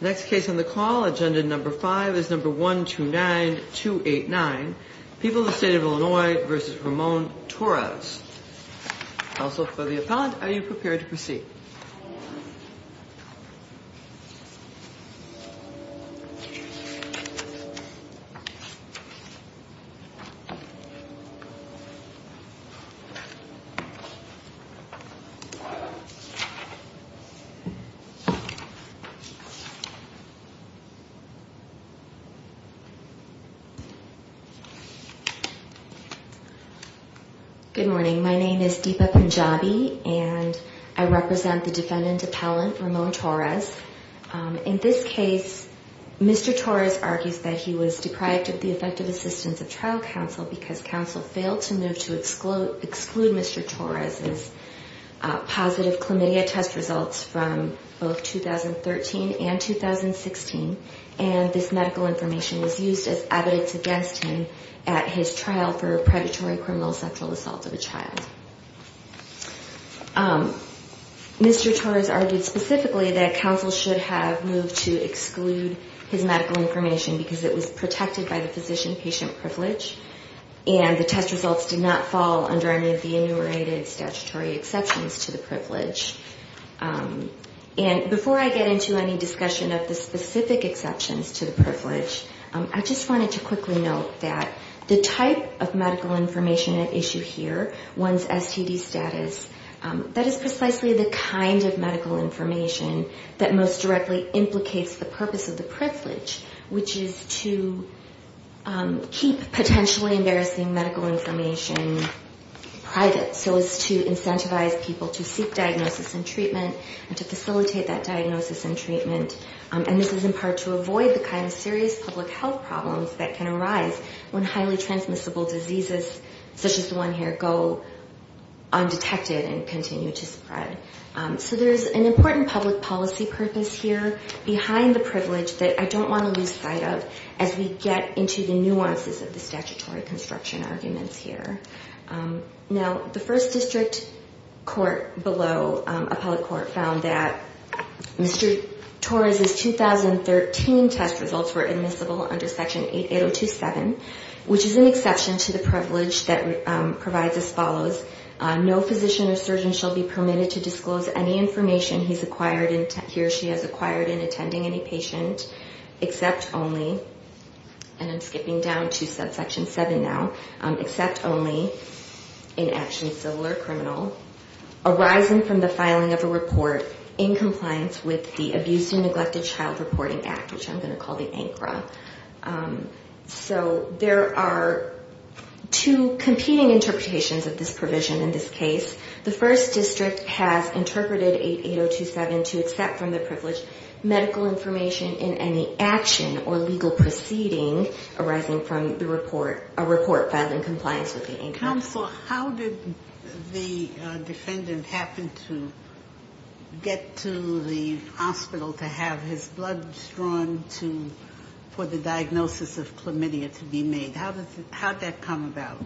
Next case on the call, agenda number 5, is number 129289, People of the State of Illinois v. Ramon Torres. Counsel for the appellant, are you prepared to proceed? Good morning, my name is Deepa Punjabi, and I represent the defendant appellant, Ramon Torres. In this case, Mr. Torres argues that he was deprived of the effective assistance of trial counsel because counsel failed to move to exclude Mr. Torres' positive chlamydia test results from both 2013 and 2016, and this medical information was used as evidence against him at his trial for predatory criminal sexual assault of a child. Mr. Torres argued specifically that counsel should have moved to exclude his medical information because it was protected by the physician-patient privilege, and the test results did not fall under any of the enumerated statutory exceptions to the privilege. And before I get into any discussion of the specific exceptions to the privilege, I just wanted to quickly note that the type of medical information at issue here, one's STD status, that is precisely the kind of medical information that most directly implicates the purpose of the privilege, which is to keep potentially embarrassing medical information private, so as to incentivize people to seek diagnosis and treatment and to facilitate that diagnosis and treatment, and this is in part to avoid the kind of serious public health problems that can arise when highly transmissible diseases, such as the one here, go undetected and continue to spread. So there's an important public policy purpose here behind the privilege that I don't want to lose sight of as we get into the nuances of the statutory construction arguments here. Now, the first district court below appellate court found that Mr. Torres' 2013 test results were admissible under Section 88027, which is an exception to the privilege that provides as follows. No physician or surgeon shall be permitted to disclose any information he or she has acquired in attending any patient, except only, and I'm skipping down to Subsection 7 now, except only in action of civil or criminal arising from the filing of a report in compliance with the Abuse and Neglected Child Reporting Act, which I'm going to call the ANCRA. So there are two competing interpretations of this provision in this case. The first district has interpreted 88027 to accept from the privilege medical information in any action or legal proceeding arising from the report, a report filed in compliance with the ANCRA. And counsel, how did the defendant happen to get to the hospital to have his blood drawn for the diagnosis of chlamydia to be made? How did that come about?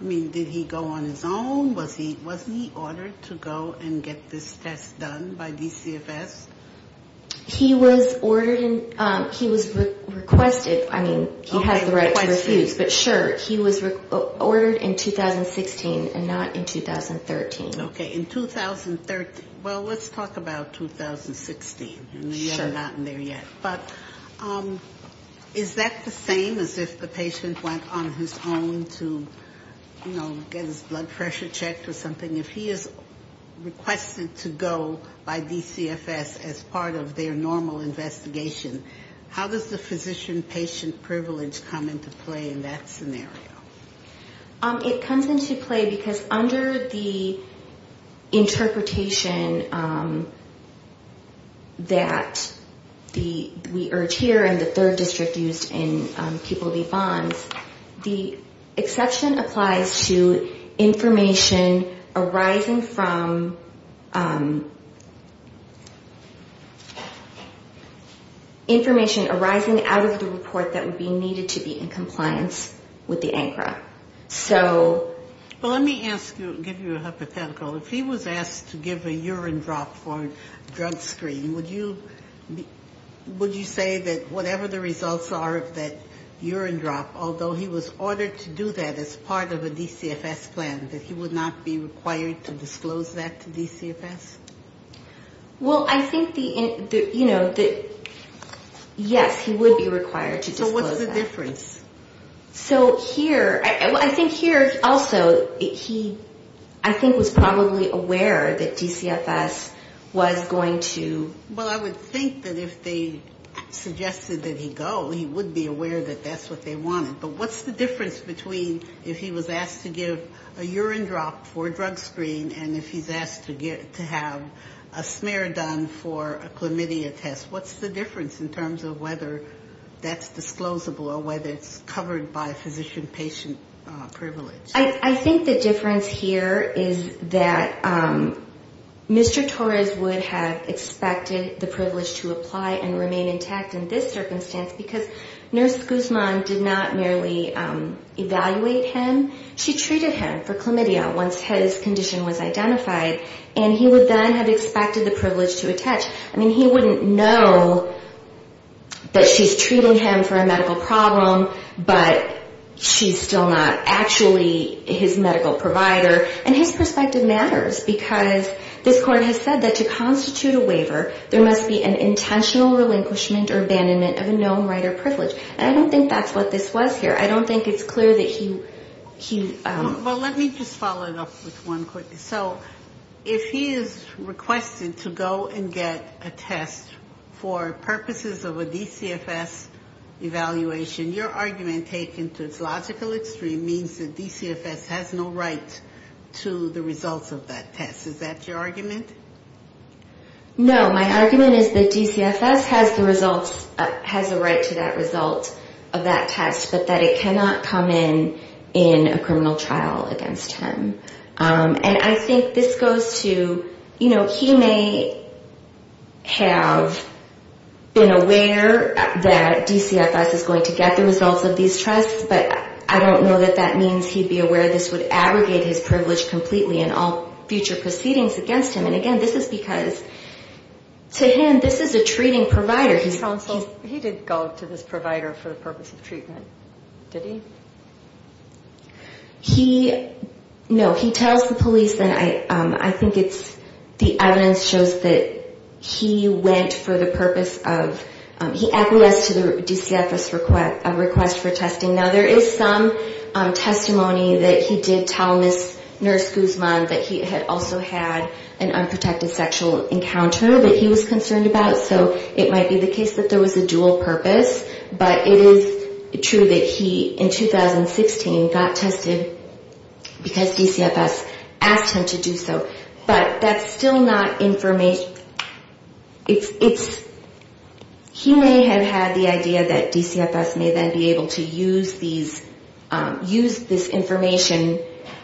I mean, did he go on his own? Wasn't he ordered to go and get this test done by DCFS? He was ordered and he was requested, I mean, he has the right to refuse, but sure, he was ordered in 2016 and not in 2013. Okay. In 2013. Well, let's talk about 2016. We're not in there yet. But is that the same as if the patient went on his own to, you know, get his blood pressure checked or something? If he is requested to go by DCFS, as part of their normal investigation, how does the physician-patient privilege come into play in that scenario? It comes into play because under the interpretation that the, we urge here, and the third district used in people v. bonds, the exception applies to information arising from, you know, the patient's blood pressure, the patient's blood pressure, the patient's blood temperature, information arising out of the report that would be needed to be in compliance with the ANCRA. So... Well, let me ask you, give you a hypothetical. If he was asked to give a urine drop for a drug screen, would you say that whatever the results are of that urine drop, although he was ordered to do that as part of a DCFS plan, that he would not be required to disclose that to DCFS? Well, I think the, you know, yes, he would be required to disclose that. So what's the difference? So here, I think here, also, he, I think, was probably aware that DCFS was going to... Well, I would think that if they suggested that he go, he would be aware that that's what they wanted. But what's the difference between if he was asked to give a urine drop for a drug screen and if he's asked to have a urine drop for a drug screen? Or if he's asked to have a smear done for a chlamydia test? What's the difference in terms of whether that's disclosable or whether it's covered by physician-patient privilege? I think the difference here is that Mr. Torres would have expected the privilege to apply and remain intact in this circumstance because Nurse Guzman did not merely evaluate him. She treated him for chlamydia once his condition was established, and then had expected the privilege to attach. I mean, he wouldn't know that she's treating him for a medical problem, but she's still not actually his medical provider. And his perspective matters because this Court has said that to constitute a waiver, there must be an intentional relinquishment or abandonment of a known right or privilege. And I don't think that's what this was here. I don't think it's clear that he... Well, let me just follow it up with one quick. So if he is requested to go and get a test for purposes of a DCFS evaluation, your argument taken to its logical extreme means that DCFS has no right to the results of that test. Is that your argument? No. My argument is that DCFS has the results, has a right to that result of that test, but that it cannot come in in a criminal trial. And I think this goes to, you know, he may have been aware that DCFS is going to get the results of these tests, but I don't know that that means he'd be aware this would aggregate his privilege completely in all future proceedings against him. And again, this is because to him, this is a treating provider. He did go to this provider for the purpose of treatment, did he? No. He tells the police and I think it's the evidence shows that he went for the purpose of, he acquiesced to the DCFS request for testing. Now there is some testimony that he did tell Nurse Guzman that he had also had an unprotected sexual encounter that he was concerned about. So it might be the case that there was a dual purpose, but it is true that he in fact, because DCFS asked him to do so, but that's still not information. He may have had the idea that DCFS may then be able to use this information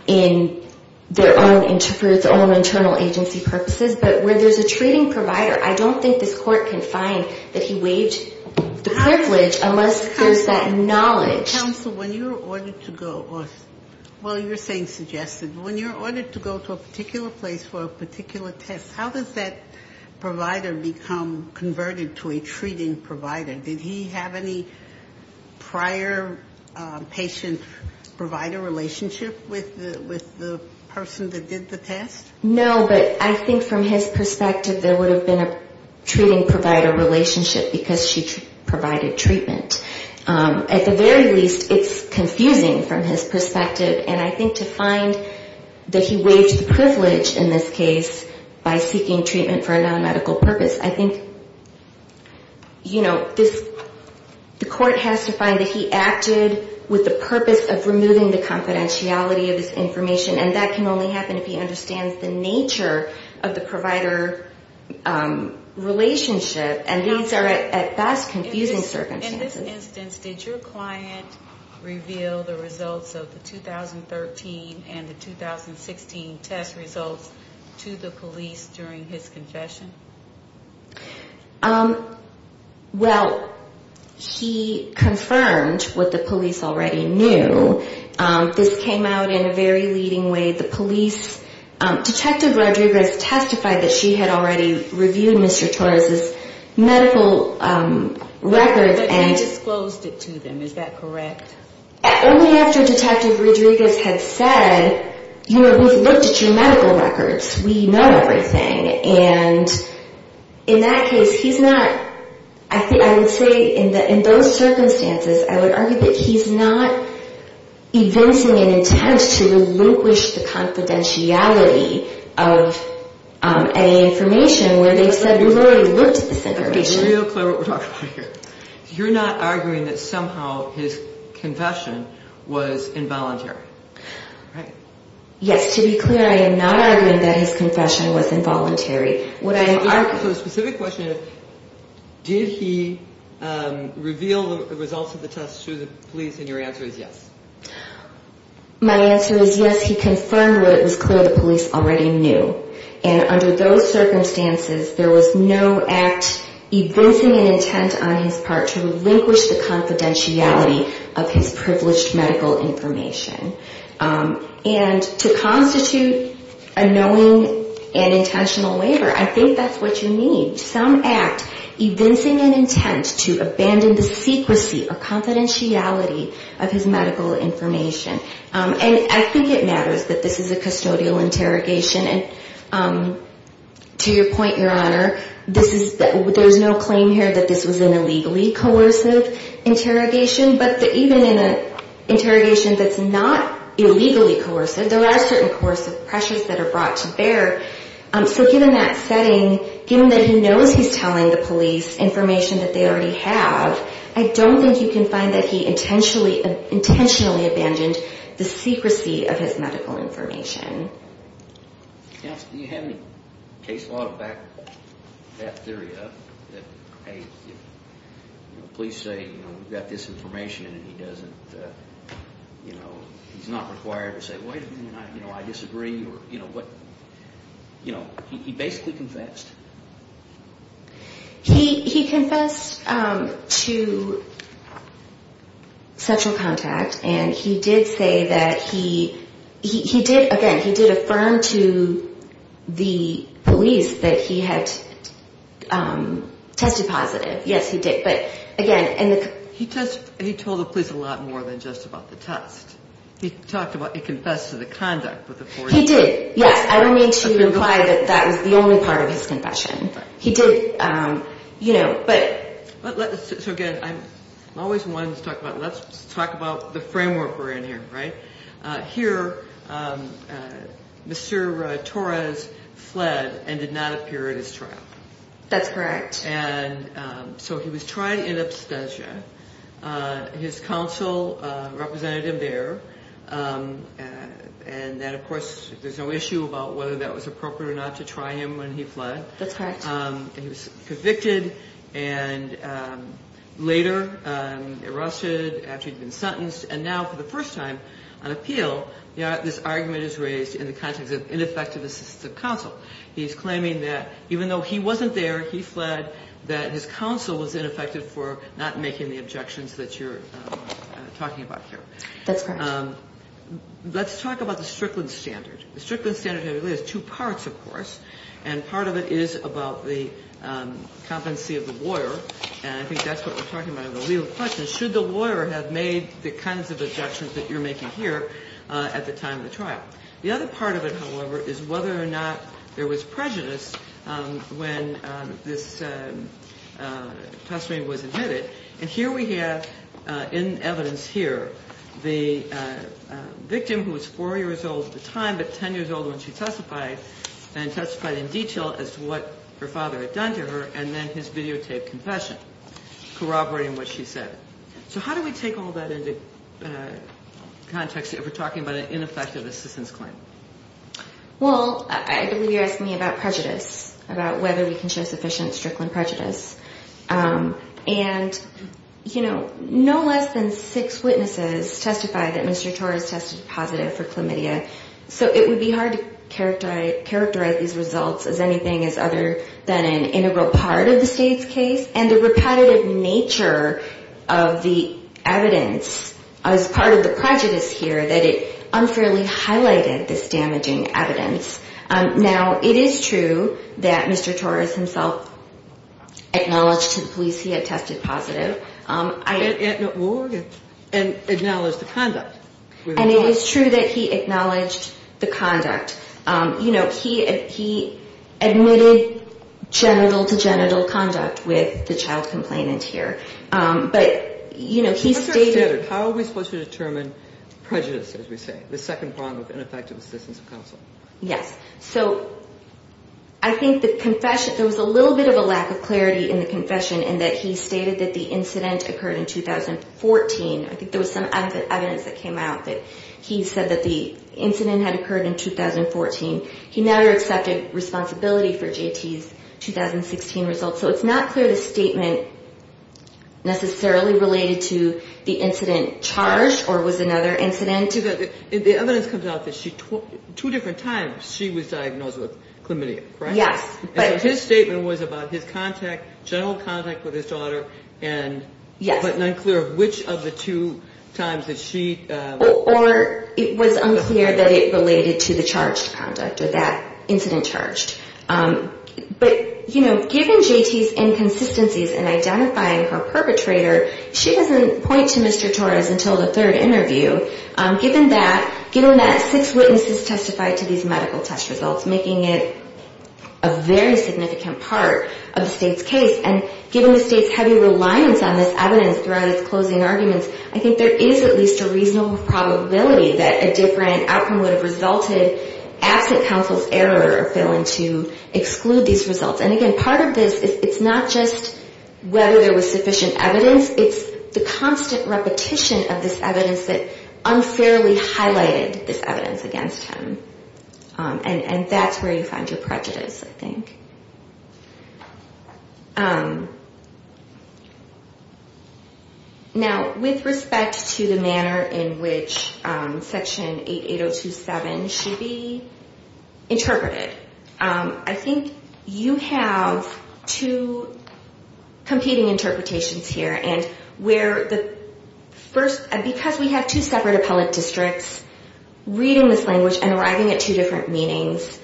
in their own internal agency purposes, but where there's a treating provider, I don't think this court can find that he waived the privilege unless there's that knowledge. Counsel, when you're ordered to go, well, you're saying suggested, when you're ordered to go to a particular place for a particular test, how does that provider become converted to a treating provider? Did he have any prior patient provider relationship with the person that did the test? No, but I think from his perspective, there would have been a treating provider relationship because she provided treatment. At the very least, it's confusing from his perspective, and I think to find that he waived the privilege in this case by seeking treatment for a non-medical purpose, I think, you know, this, the court has to find that he acted with the purpose of removing the confidentiality of this information, and that can only happen if he understands the nature of the provider relationship, and these are at best confusing circumstances. In this instance, did your client reveal the results of the 2013 and the 2016 test results to the police during his confession? Well, he confirmed what the police already knew. This came out in a very leading way. The police, Detective Rodriguez testified that she had already reviewed Mr. Torres' medical records and found that there was no evidence that Mr. Torres' medical records had been used. And he disclosed it to them, is that correct? Only after Detective Rodriguez had said, you know, we've looked at your medical records, we know everything, and in that case, he's not, I would say in those circumstances, I would argue that he's not evincing an intent to relinquish the confidentiality of any So you're not arguing that somehow his confession was involuntary, right? Yes, to be clear, I am not arguing that his confession was involuntary. So the specific question is, did he reveal the results of the test to the police, and your answer is yes. My answer is yes, he confirmed what it was clear the police already knew, and under those circumstances, there was no act evincing an intent to relinquish the confidentiality of his privileged medical information. And to constitute a knowing and intentional waiver, I think that's what you need. Some act evincing an intent to abandon the secrecy or confidentiality of his medical information. And I think it matters that this is a custodial interrogation, and to your point, Your Honor, there's no claim here that this was an objective interrogation, but even in an interrogation that's not illegally coerced, there are certain coercive pressures that are brought to bear, so given that setting, given that he knows he's telling the police information that they already have, I don't think you can find that he intentionally abandoned the secrecy of his medical information. Counsel, do you have any case law to back that theory up? That police say, you know, we've got this information, and he doesn't, you know, he's not required to say, wait a minute, I disagree, or, you know, what, you know, he basically confessed. He confessed to sexual contact, and he did say that he, he did, again, he did affirm to the police that he had, you know, tested positive, yes, he did, but, again, and the... He told the police a lot more than just about the test. He talked about, he confessed to the conduct of the... He did, yes, I don't mean to imply that that was the only part of his confession. He did, you know, but... So again, I'm always wanting to talk about, let's talk about the framework we're in here, right? Here, Mr. Torres fled and did not appear at his trial. That's correct. And so he was tried in absentia. His counsel represented him there. And then, of course, there's no issue about whether that was appropriate or not to try him when he fled. That's correct. He was convicted, and later arrested after he'd been sentenced, and now for the first time on appeal, this argument is raised in the context of ineffective assistance of counsel. He's claiming that even though he wasn't there, he fled, that his counsel was ineffective for not making the objections that you're talking about here. That's correct. Let's talk about the Strickland standard. The Strickland standard has two parts, of course, and part of it is about the competency of the lawyer, and I think that's what we're talking about in the legal question. Should the lawyer have made the kinds of objections that you're making here at the time of the trial? The other part of it, however, is whether or not there was prejudice when this testimony was admitted. And here we have, in evidence here, the victim, who was 4 years old at the time, but 10 years old when she testified, and testified in detail as to what her father had done to her, and then his videotaped confession, corroborating what she said. So how do we take all that into context if we're talking about an ineffective assistance of counsel? Well, I believe you're asking me about prejudice, about whether we can show sufficient Strickland prejudice. And, you know, no less than six witnesses testified that Mr. Torres tested positive for chlamydia, so it would be hard to characterize these results as anything other than an integral part of the state's case. And the repetitive nature of the evidence as part of the prejudice here, that it unfairly highlights the fact that Mr. Torres testified positive for chlamydia. And that he provided this damaging evidence. Now, it is true that Mr. Torres himself acknowledged to the police he had tested positive. And acknowledged the conduct. And it is true that he acknowledged the conduct. You know, he admitted genital-to-genital conduct with the child complainant here. And he admitted that he was not responsible for the ineffective assistance of counsel. Yes. So I think the confession, there was a little bit of a lack of clarity in the confession, in that he stated that the incident occurred in 2014. I think there was some evidence that came out that he said that the incident had occurred in 2014. He never accepted responsibility for J.T.'s 2016 results. So it's not clear the statement necessarily related to the incident charged or was another incident. The evidence comes out that two different times she was diagnosed with chlamydia, right? Yes. So his statement was about his contact, general contact with his daughter, but unclear which of the two times that she... Or it was unclear that it related to the charged conduct or that incident charged. But, you know, given J.T.'s inconsistencies in identifying her perpetrator, she doesn't point to Mr. Torres until the third interview. Given that, given that six witnesses testified to these medical test results, making it a very significant part of the state's case. And given the state's heavy reliance on this evidence throughout its closing arguments, I think there is at least a reasonable probability that a different outcome would have resulted absent counsel's error of failing to exclude these results. And again, part of this, it's not just whether there was sufficient evidence. It's the constant repetition of this evidence that unfairly highlighted this evidence against him. And that's where you find your prejudice, I think. Now, with respect to the manner in which Section 88027 should be interpreted, I think you have two competing interpretations here. And where the first, because we have two separate appellate districts reading this language and arriving at two different meanings,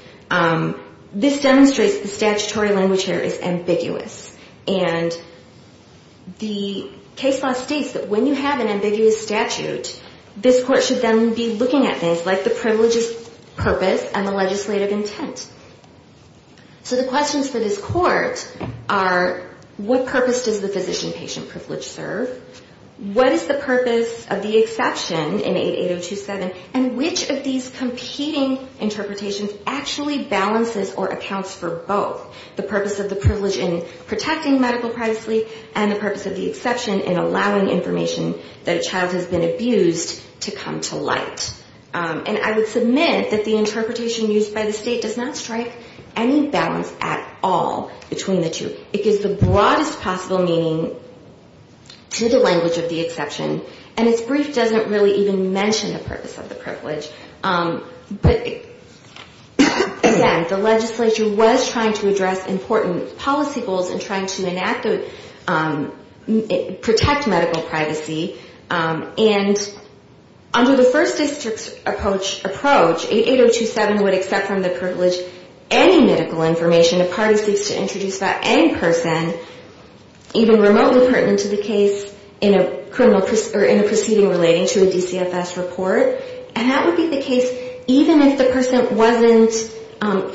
this demonstrates the statutory language here is ambiguous. And the case law states that when you have an ambiguous statute, this court should then be looking at things like the privileges, purpose, and the legislative intent. So the questions for this court are, what purpose does the physician-patient privilege serve? What is the purpose of the exception in 88027? And which of these competing interpretations actually balances or accounts for both? The purpose of the privilege in protecting medical privacy and the purpose of the exception in allowing information that a child has been abused to come to light. And I would submit that the interpretation used by the state does not strike any balance at all between the two. It gives the broadest possible meaning to the language of the exception, and its brief doesn't really even mention the purposes. But again, the legislature was trying to address important policy goals and trying to enact, protect medical privacy. And under the first district's approach, 88027 would accept from the privilege any medical information a party seeks to introduce to any person, even remotely pertinent to the case in a proceeding relating to a DCFS report. And that would be the case even if the person wasn't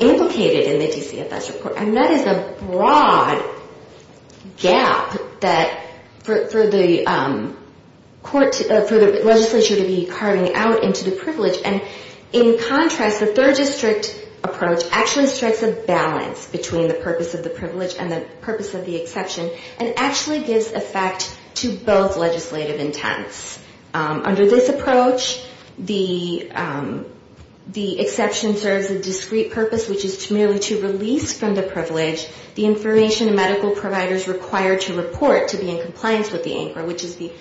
implicated in the DCFS report. And that is a broad gap for the legislature to be carving out into the privilege. And in contrast, the third district approach actually strikes a balance between the purpose of the privilege and the purpose of the exception, and actually gives effect to both legislative intents. Under this approach, the exception serves a discrete purpose, which is merely to release from the privilege the information a medical provider is required to report to be in compliance with the ANCRA, which is the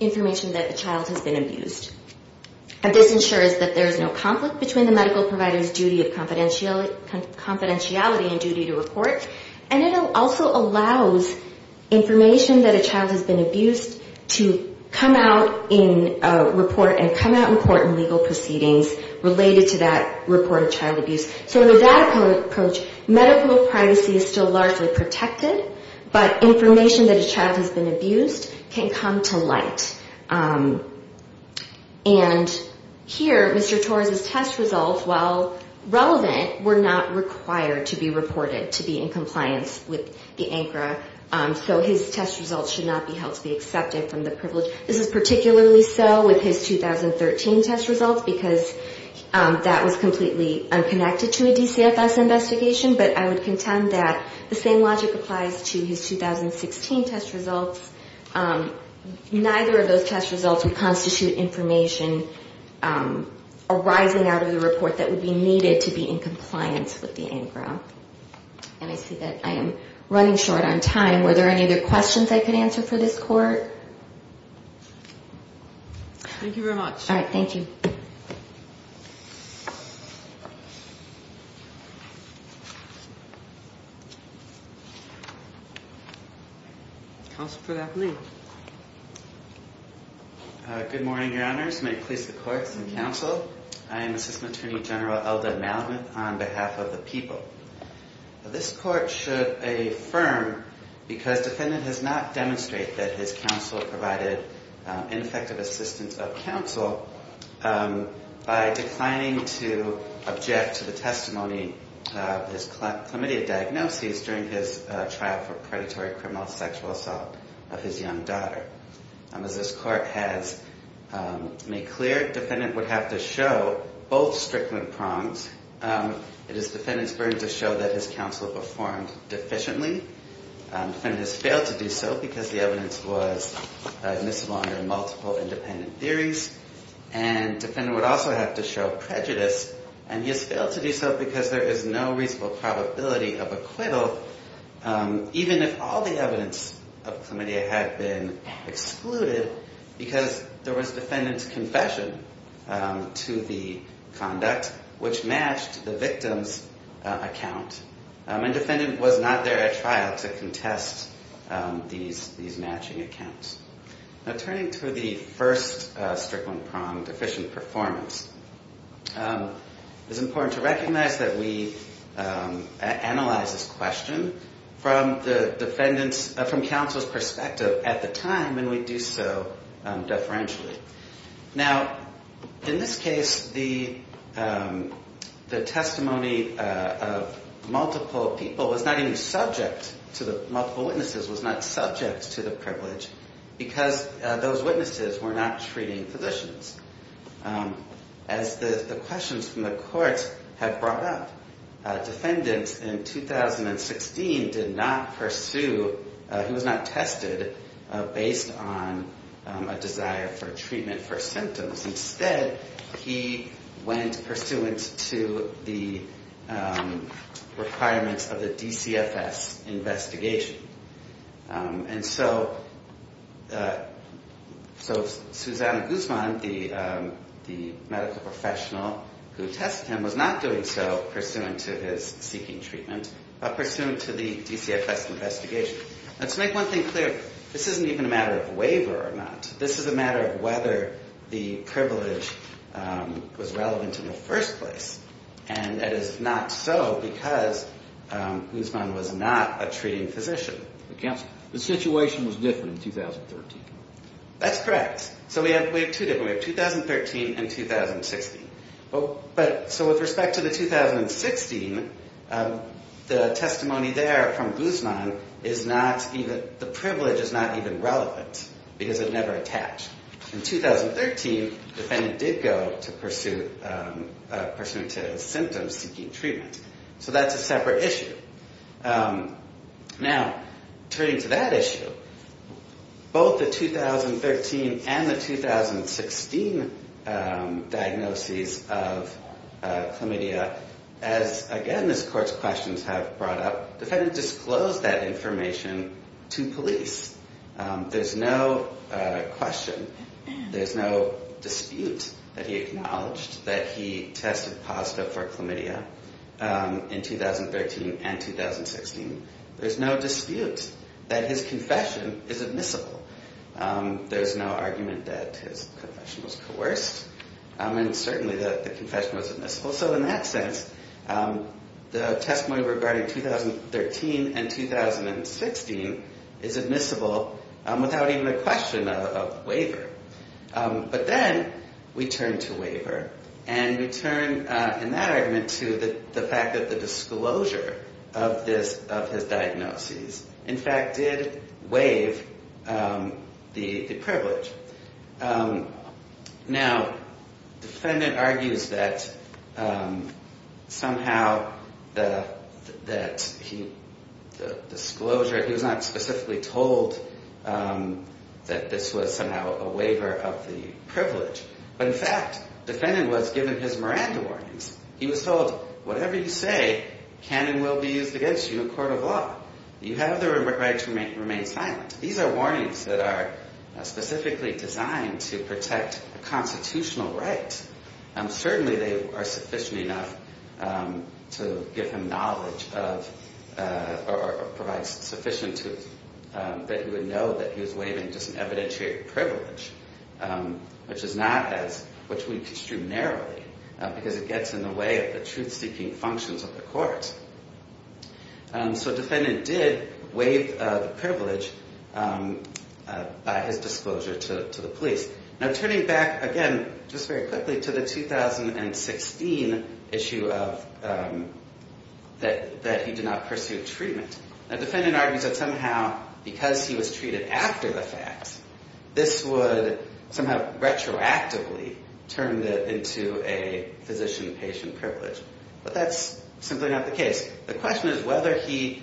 information that the child has been abused. And this ensures that there is no conflict between the medical provider's duty of confidentiality and duty to report, and it also allows information that a child has been abused to come out and be in compliance with the ANCRA. And to come out and report in legal proceedings related to that reported child abuse. So in that approach, medical privacy is still largely protected, but information that a child has been abused can come to light. And here, Mr. Torres' test results, while relevant, were not required to be reported to be in compliance with the ANCRA. So his test results should not be held to be accepted from the privilege. This is particularly so with his 2013 test results, because that was completely unconnected to a DCFS investigation. But I would contend that the same logic applies to his 2016 test results. Neither of those test results would constitute information arising out of the report that would be needed to be in compliance with the ANCRA. And I see that I am running short on time. Were there any other questions I could answer for this court? Thank you very much. All right. Thank you. Counsel for the afternoon. Good morning, Your Honors. May it please the courts and counsel, I am Assistant Attorney General Eldad Malamuth on behalf of the people. This court should affirm, because defendant has not demonstrated that his counsel provided ineffective assistance of counsel, by declining to object to the testimony of his committee of diagnoses during his trial for predatory criminal sexual assault of his young daughter. As this court has made clear, defendant would have to show both strickling prongs. It is defendant's burden to show that his counsel performed deficiently. Defendant has failed to do so because the evidence was admissible under multiple independent theories. And defendant would also have to show prejudice, and he has failed to do so because there is no reasonable probability of acquittal, even if all the evidence of chlamydia had been excluded, because there was defendant's confession to the conduct which matched the victim's account. And defendant was not there at trial to contest these matching accounts. Now, turning to the first strickling prong, deficient performance, it is important to recognize that we analyze this question from the defendant's, from counsel's perspective at the time, and we do so deferentially. Now, in this case, the testimony of multiple people was not even subject to the, multiple witnesses was not subject to the privilege because those witnesses were not treating physicians. As the questions from the court have brought up, defendant in 2016 did not pursue, he was not tested based on a desire for treatment for symptoms. Instead, he went pursuant to the requirements of the DCFS investigation. And so Susanna Guzman, the medical professional who tested him, was not doing so pursuant to his seeking treatment, but pursuant to the DCFS investigation. And to make one thing clear, this isn't even a matter of waiver or not. This is a matter of whether the privilege was relevant in the first place, and it is not so because Guzman was not a treating physician. The situation was different in 2013. That's correct. So we have two different, we have 2013 and 2016. But, so with respect to the 2016, the testimony there from Guzman is not even, the privilege is not even relevant because it never attached. In 2013, the defendant did go to pursue, pursuant to symptoms seeking treatment. So that's a separate issue. Now, turning to that issue, both the 2013 and the 2016 diagnoses of chlamydia, as again this court's questions have brought up, defendant disclosed that information to police. There's no question, there's no dispute that he acknowledged that he tested positive for chlamydia. In 2013 and 2016, there's no dispute that his confession is admissible. There's no argument that his confession was coerced, and certainly that the confession was admissible. So in that sense, the testimony regarding 2013 and 2016 is admissible without even a question of waiver. But then we turn to waiver, and we turn in that argument to the fact that the disclosure of his diagnoses, in fact, did waive the privilege. Now, defendant argues that somehow that he, the disclosure, he was not specifically told that this was somehow a waiver. It was a waiver of the privilege. But in fact, defendant was given his Miranda warnings. He was told, whatever you say, can and will be used against you in a court of law. You have the right to remain silent. These are warnings that are specifically designed to protect a constitutional right. Certainly they are sufficient enough to give him knowledge of, or provide sufficient proof that he would know that he was waiving just an evidentiary privilege, which is not as, which we construe narrowly, because it gets in the way of the truth-seeking functions of the court. So defendant did waive the privilege by his disclosure to the police. Now, turning back, again, just very quickly to the 2016 issue of that he did not pursue treatment. Now, defendant argues that somehow because he was treated after the facts, this would somehow retroactively turn into a physician-patient privilege. But that's simply not the case. The question is whether he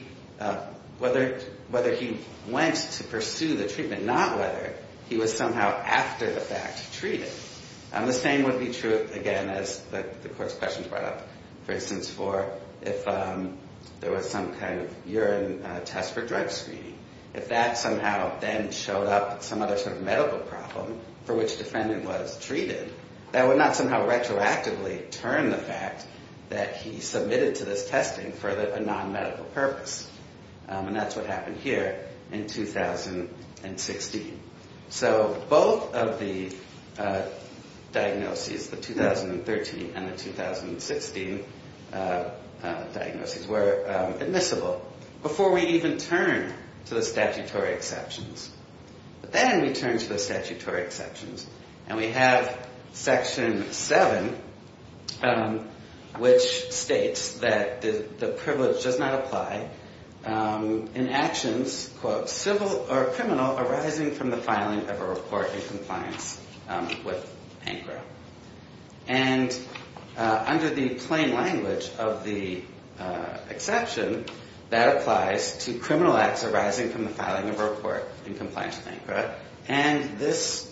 went to pursue the treatment, not whether he was somehow after the fact treated. The same would be true, again, as the court's questions brought up, for instance, for if there was some kind of urine test for drug screening. If that somehow then showed up some other sort of medical problem for which defendant was treated, that would not somehow retroactively turn the fact that he submitted to this testing into a physician-patient privilege. And that's what happened here in 2016. So both of the diagnoses, the 2013 and the 2016 diagnoses, were admissible, before we even turn to the statutory exceptions. But then we turn to the statutory exceptions, and we have Section 7, which states that the person who is not a physician-patient is not a physician-patient. And that the privilege does not apply in actions, quote, civil or criminal arising from the filing of a report in compliance with ANCRA. And under the plain language of the exception, that applies to criminal acts arising from the filing of a report in compliance with ANCRA. And this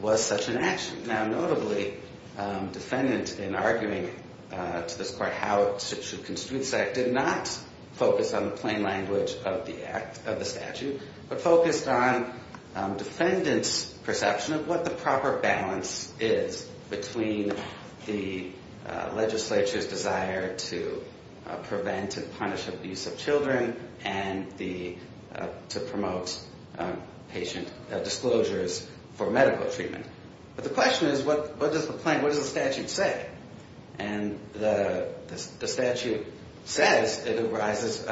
was such an action. Now, notably, defendants in arguing to this court how it should constitute the statute did not focus on the plain language of the statute, but focused on defendants' perception of what the proper balance is between the legislature's desire to prevent and punish abuse of children and to promote patient disclosures for medical treatment. But the question is, what does the statute say? And the statute says it arises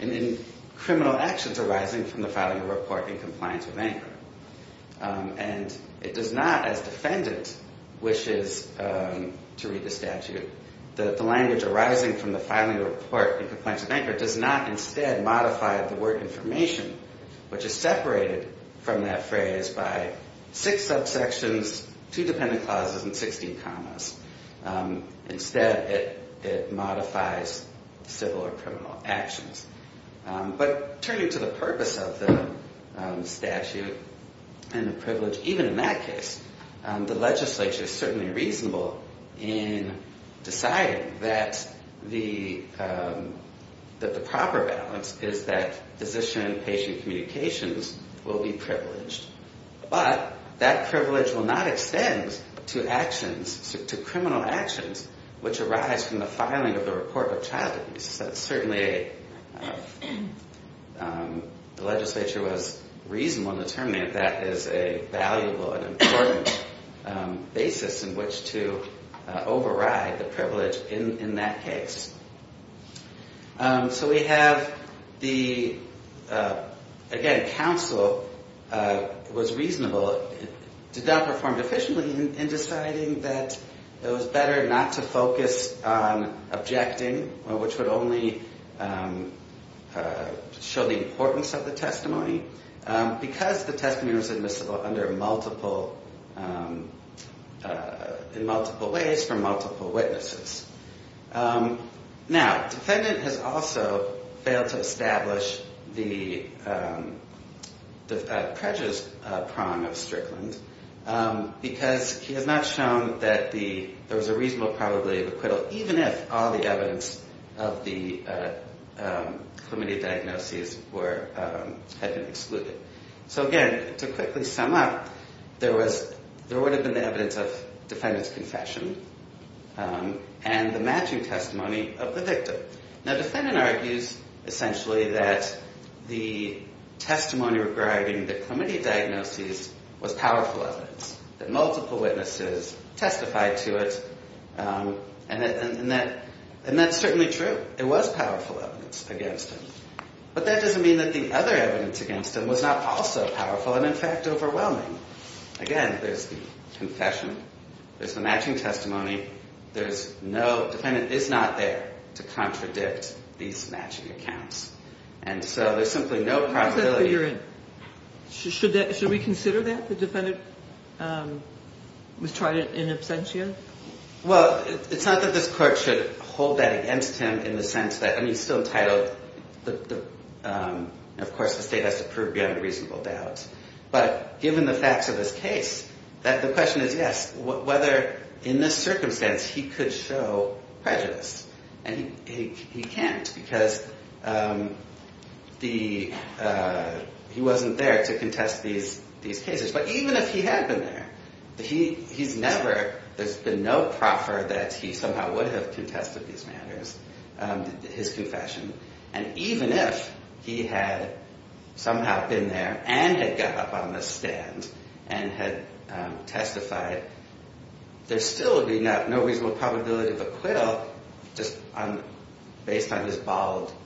in criminal actions arising from the filing of a report in compliance with ANCRA. And it does not, as defendant wishes to read the statute, that the language arising from the filing of a report in compliance with ANCRA does not instead modify the word information, which is separated from that phrase by six subsections, two dependent clauses, and 16 commas. Instead, it modifies civil or criminal actions. But turning to the purpose of the statute and the privilege, even in that case, the legislature is certainly reasonable in deciding that the proper balance is that physician-patient disclosure. And that physician-patient communications will be privileged. But that privilege will not extend to actions, to criminal actions, which arise from the filing of the report of child abuse. Certainly, the legislature was reasonable in determining that that is a valuable and important basis in which to override the privilege in that case. Again, counsel was reasonable, did not perform deficiently in deciding that it was better not to focus on objecting, which would only show the importance of the testimony, because the testimony was admissible in multiple ways from multiple witnesses. Now, defendant has also failed to establish the prejudice prong of Strickland, because he has not shown that there was a reasonable probability of acquittal, even if all the evidence of the chlamydia diagnoses had been excluded. So again, to quickly sum up, there would have been the evidence of defendant's confession, and there would have been the evidence of defendant's acquittal. And the matching testimony of the victim. Now, defendant argues, essentially, that the testimony regarding the chlamydia diagnoses was powerful evidence, that multiple witnesses testified to it, and that's certainly true. It was powerful evidence against him. But that doesn't mean that the other evidence against him was not also powerful and, in fact, overwhelming. Again, there's the confession, there's the matching testimony. There's no — defendant is not there to contradict these matching accounts. And so there's simply no probability — Should we consider that, the defendant was tried in absentia? Well, it's not that this Court should hold that against him in the sense that — I mean, he's still entitled. Of course, the State has to prove beyond reasonable doubt. But given the facts of this case, the question is, yes, whether, in this circumstance, he could show prejudice. And he can't, because he wasn't there to contest these cases. But even if he had been there, he's never — there's been no proffer that he somehow would have contested these matters, his confession. And even if he had somehow been there and had got up on the stand and had testified, there still would be no reasonable probability of acquittal just based on his bald —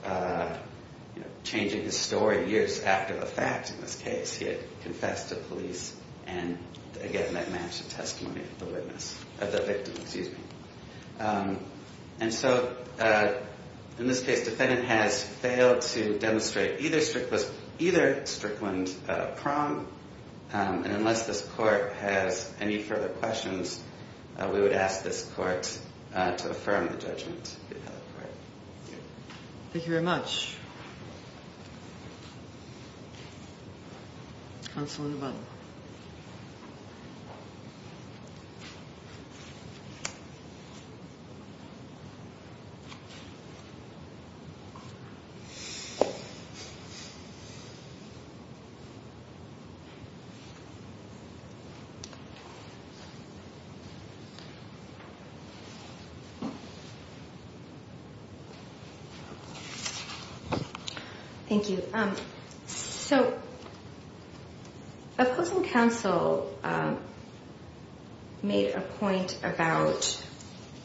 changing his story years after the fact in this case. He had confessed to police and, again, that matched the testimony of the witness — of the victim, excuse me. And so in this case, defendant has failed to demonstrate either Strickland — either Strickland prong. And unless this Court has any further questions, we would ask this Court to affirm the judgment. Thank you very much. Counsel in the bottom. Thank you. So opposing counsel made a point about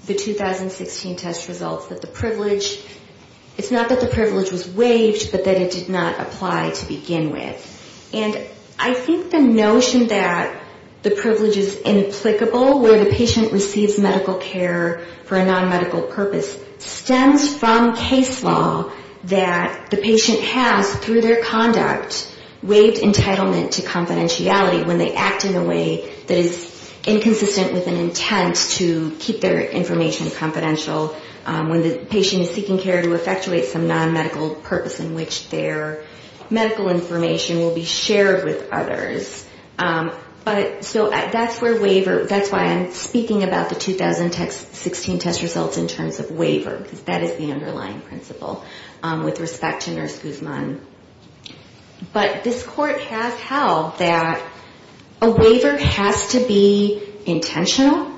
the 2016 test results, that the privilege — it's not that the privilege was waived, but that it did not apply to begin with. And I think the notion that the privilege is implicable where the patient receives medical care for a nonmedical purpose stems from case law that the patient has, through their conduct, waived entitlement to confidentiality when they act in a way that is inconsistent with an intent to keep their information confidential, when the patient is seeking care to effectuate some nonmedical purpose in which their medical information will be shared with others. So that's where waiver — that's why I'm speaking about the 2016 test results in terms of waiver, because that is the underlying principle with respect to Nurse Guzman. But this Court has held that a waiver has to be intentional.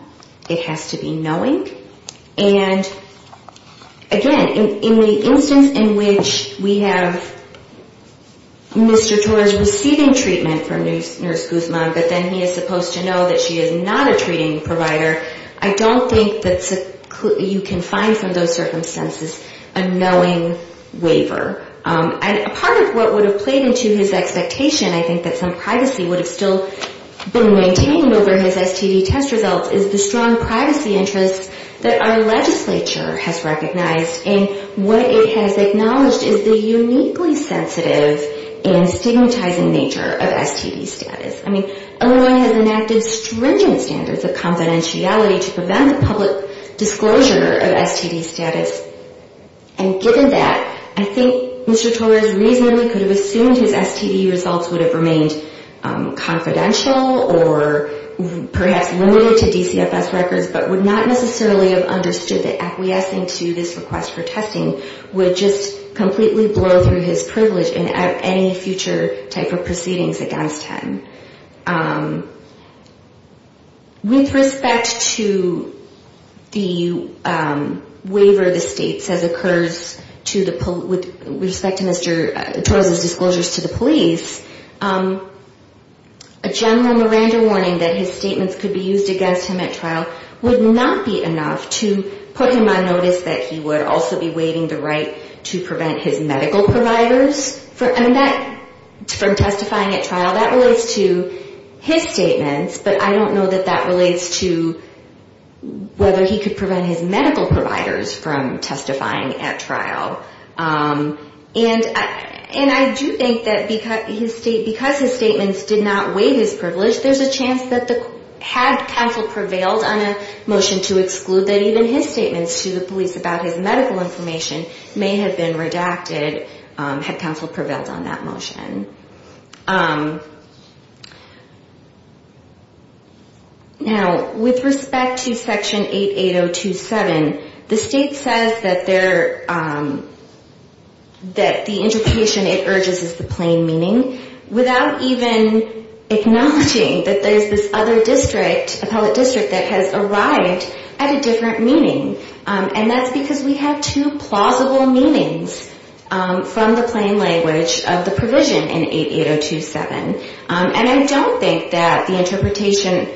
It has to be knowing. And, again, in the instance in which we have Mr. Torres receiving treatment from Nurse Guzman, but then he is supposed to know that she is not a treating provider, I don't think that you can find from those circumstances a knowing waiver. And part of what would have played into his expectation, I think, that some privacy would have still been maintained over his STD test results is the strong privacy interest that our legislature has recognized and what it has acknowledged is the uniquely sensitive and stigmatizing nature of STDs. I mean, Illinois has enacted stringent standards of confidentiality to prevent the public disclosure of STD status, and given that, I think Mr. Torres reasonably could have assumed his STD results would have remained confidential or perhaps limited to DCFS records, but would not necessarily have understood that acquiescing to this request for testing would just completely blow through his privilege in any future type of proceedings against him. With respect to the waiver the State says occurs with respect to Mr. Torres' disclosures to the police, a general Miranda warning that his statements could be used against him at trial would not be enough to put him on notice that he would also be waiving the right to prevent his medical providers from testifying at trial. That relates to his statements, but I don't know that that relates to whether he could prevent his medical providers from testifying at trial. And I do think that because his statements did not waive his privilege, there's a chance that had counsel prevailed on a motion to exclude, that even his statements to the police about his medical information may have been redacted had counsel prevailed on that motion. Now, with respect to Section 88027, the State says that the interpretation it urges is the plain meaning without even acknowledging that there's this other district, appellate district that has arrived at a different meaning. And that's because we have two plausible meanings from the plain language of the provision in 88027. And I don't think that the interpretation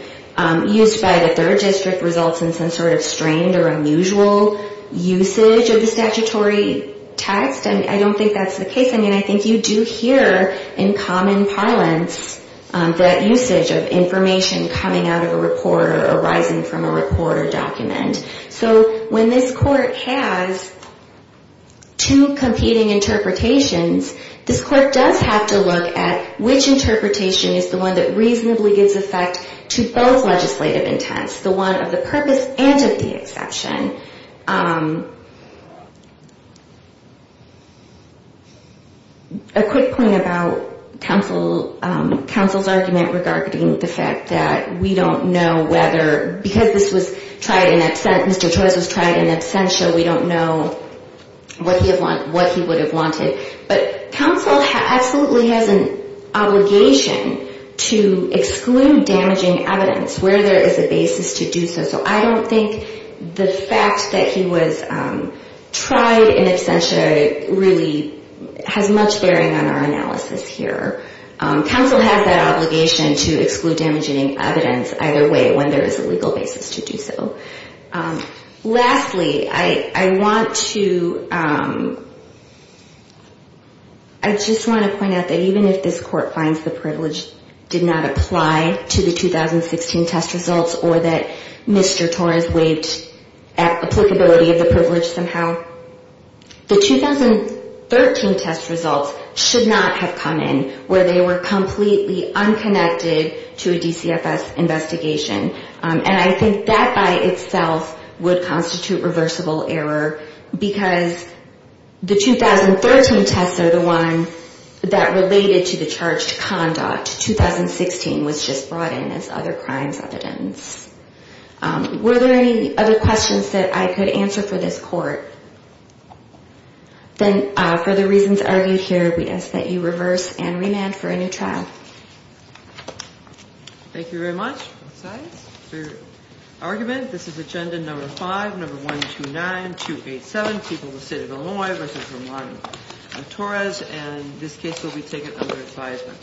used by the third district results in some sort of strained or unusual usage of the statutory text, and I don't think that's the case. I mean, I think you do hear in common parlance that usage of information coming out of a report or arising from a report or document. So when this Court has two competing interpretations, this Court does have to look at which interpretation is the one that reasonably gives effect to both legislative intents, the one of the purpose and of the exception. A quick point about counsel's argument regarding the fact that we don't know whether, because this was tried in absentia, we don't know what he would have wanted. But counsel absolutely has an obligation to exclude damaging evidence where there is a basis to do so. So I don't think the fact that he was tried in absentia really has much bearing on our analysis here. Counsel has that obligation to exclude damaging evidence either way when there is a legal basis to do so. Lastly, I want to, I just want to point out that even if this Court finds the privilege did not apply to the 2016 test results or that Mr. Torres waived applicability of the privilege somehow, the 2013 test results should not have come in where they were completely unconnected to a DCFS investigation. And I think that by itself would constitute reversible error because the 2013 tests are the one that related to the charge to conduct. 2016 was just brought in as other crimes evidence. Were there any other questions that I could answer for this Court? Then for the reasons argued here, we ask that you reverse and remand for a new trial. Thank you very much. For argument, this is agenda number 5, number 129287, People of the State of Illinois v. Romano Torres, and this case will be taken under advisement.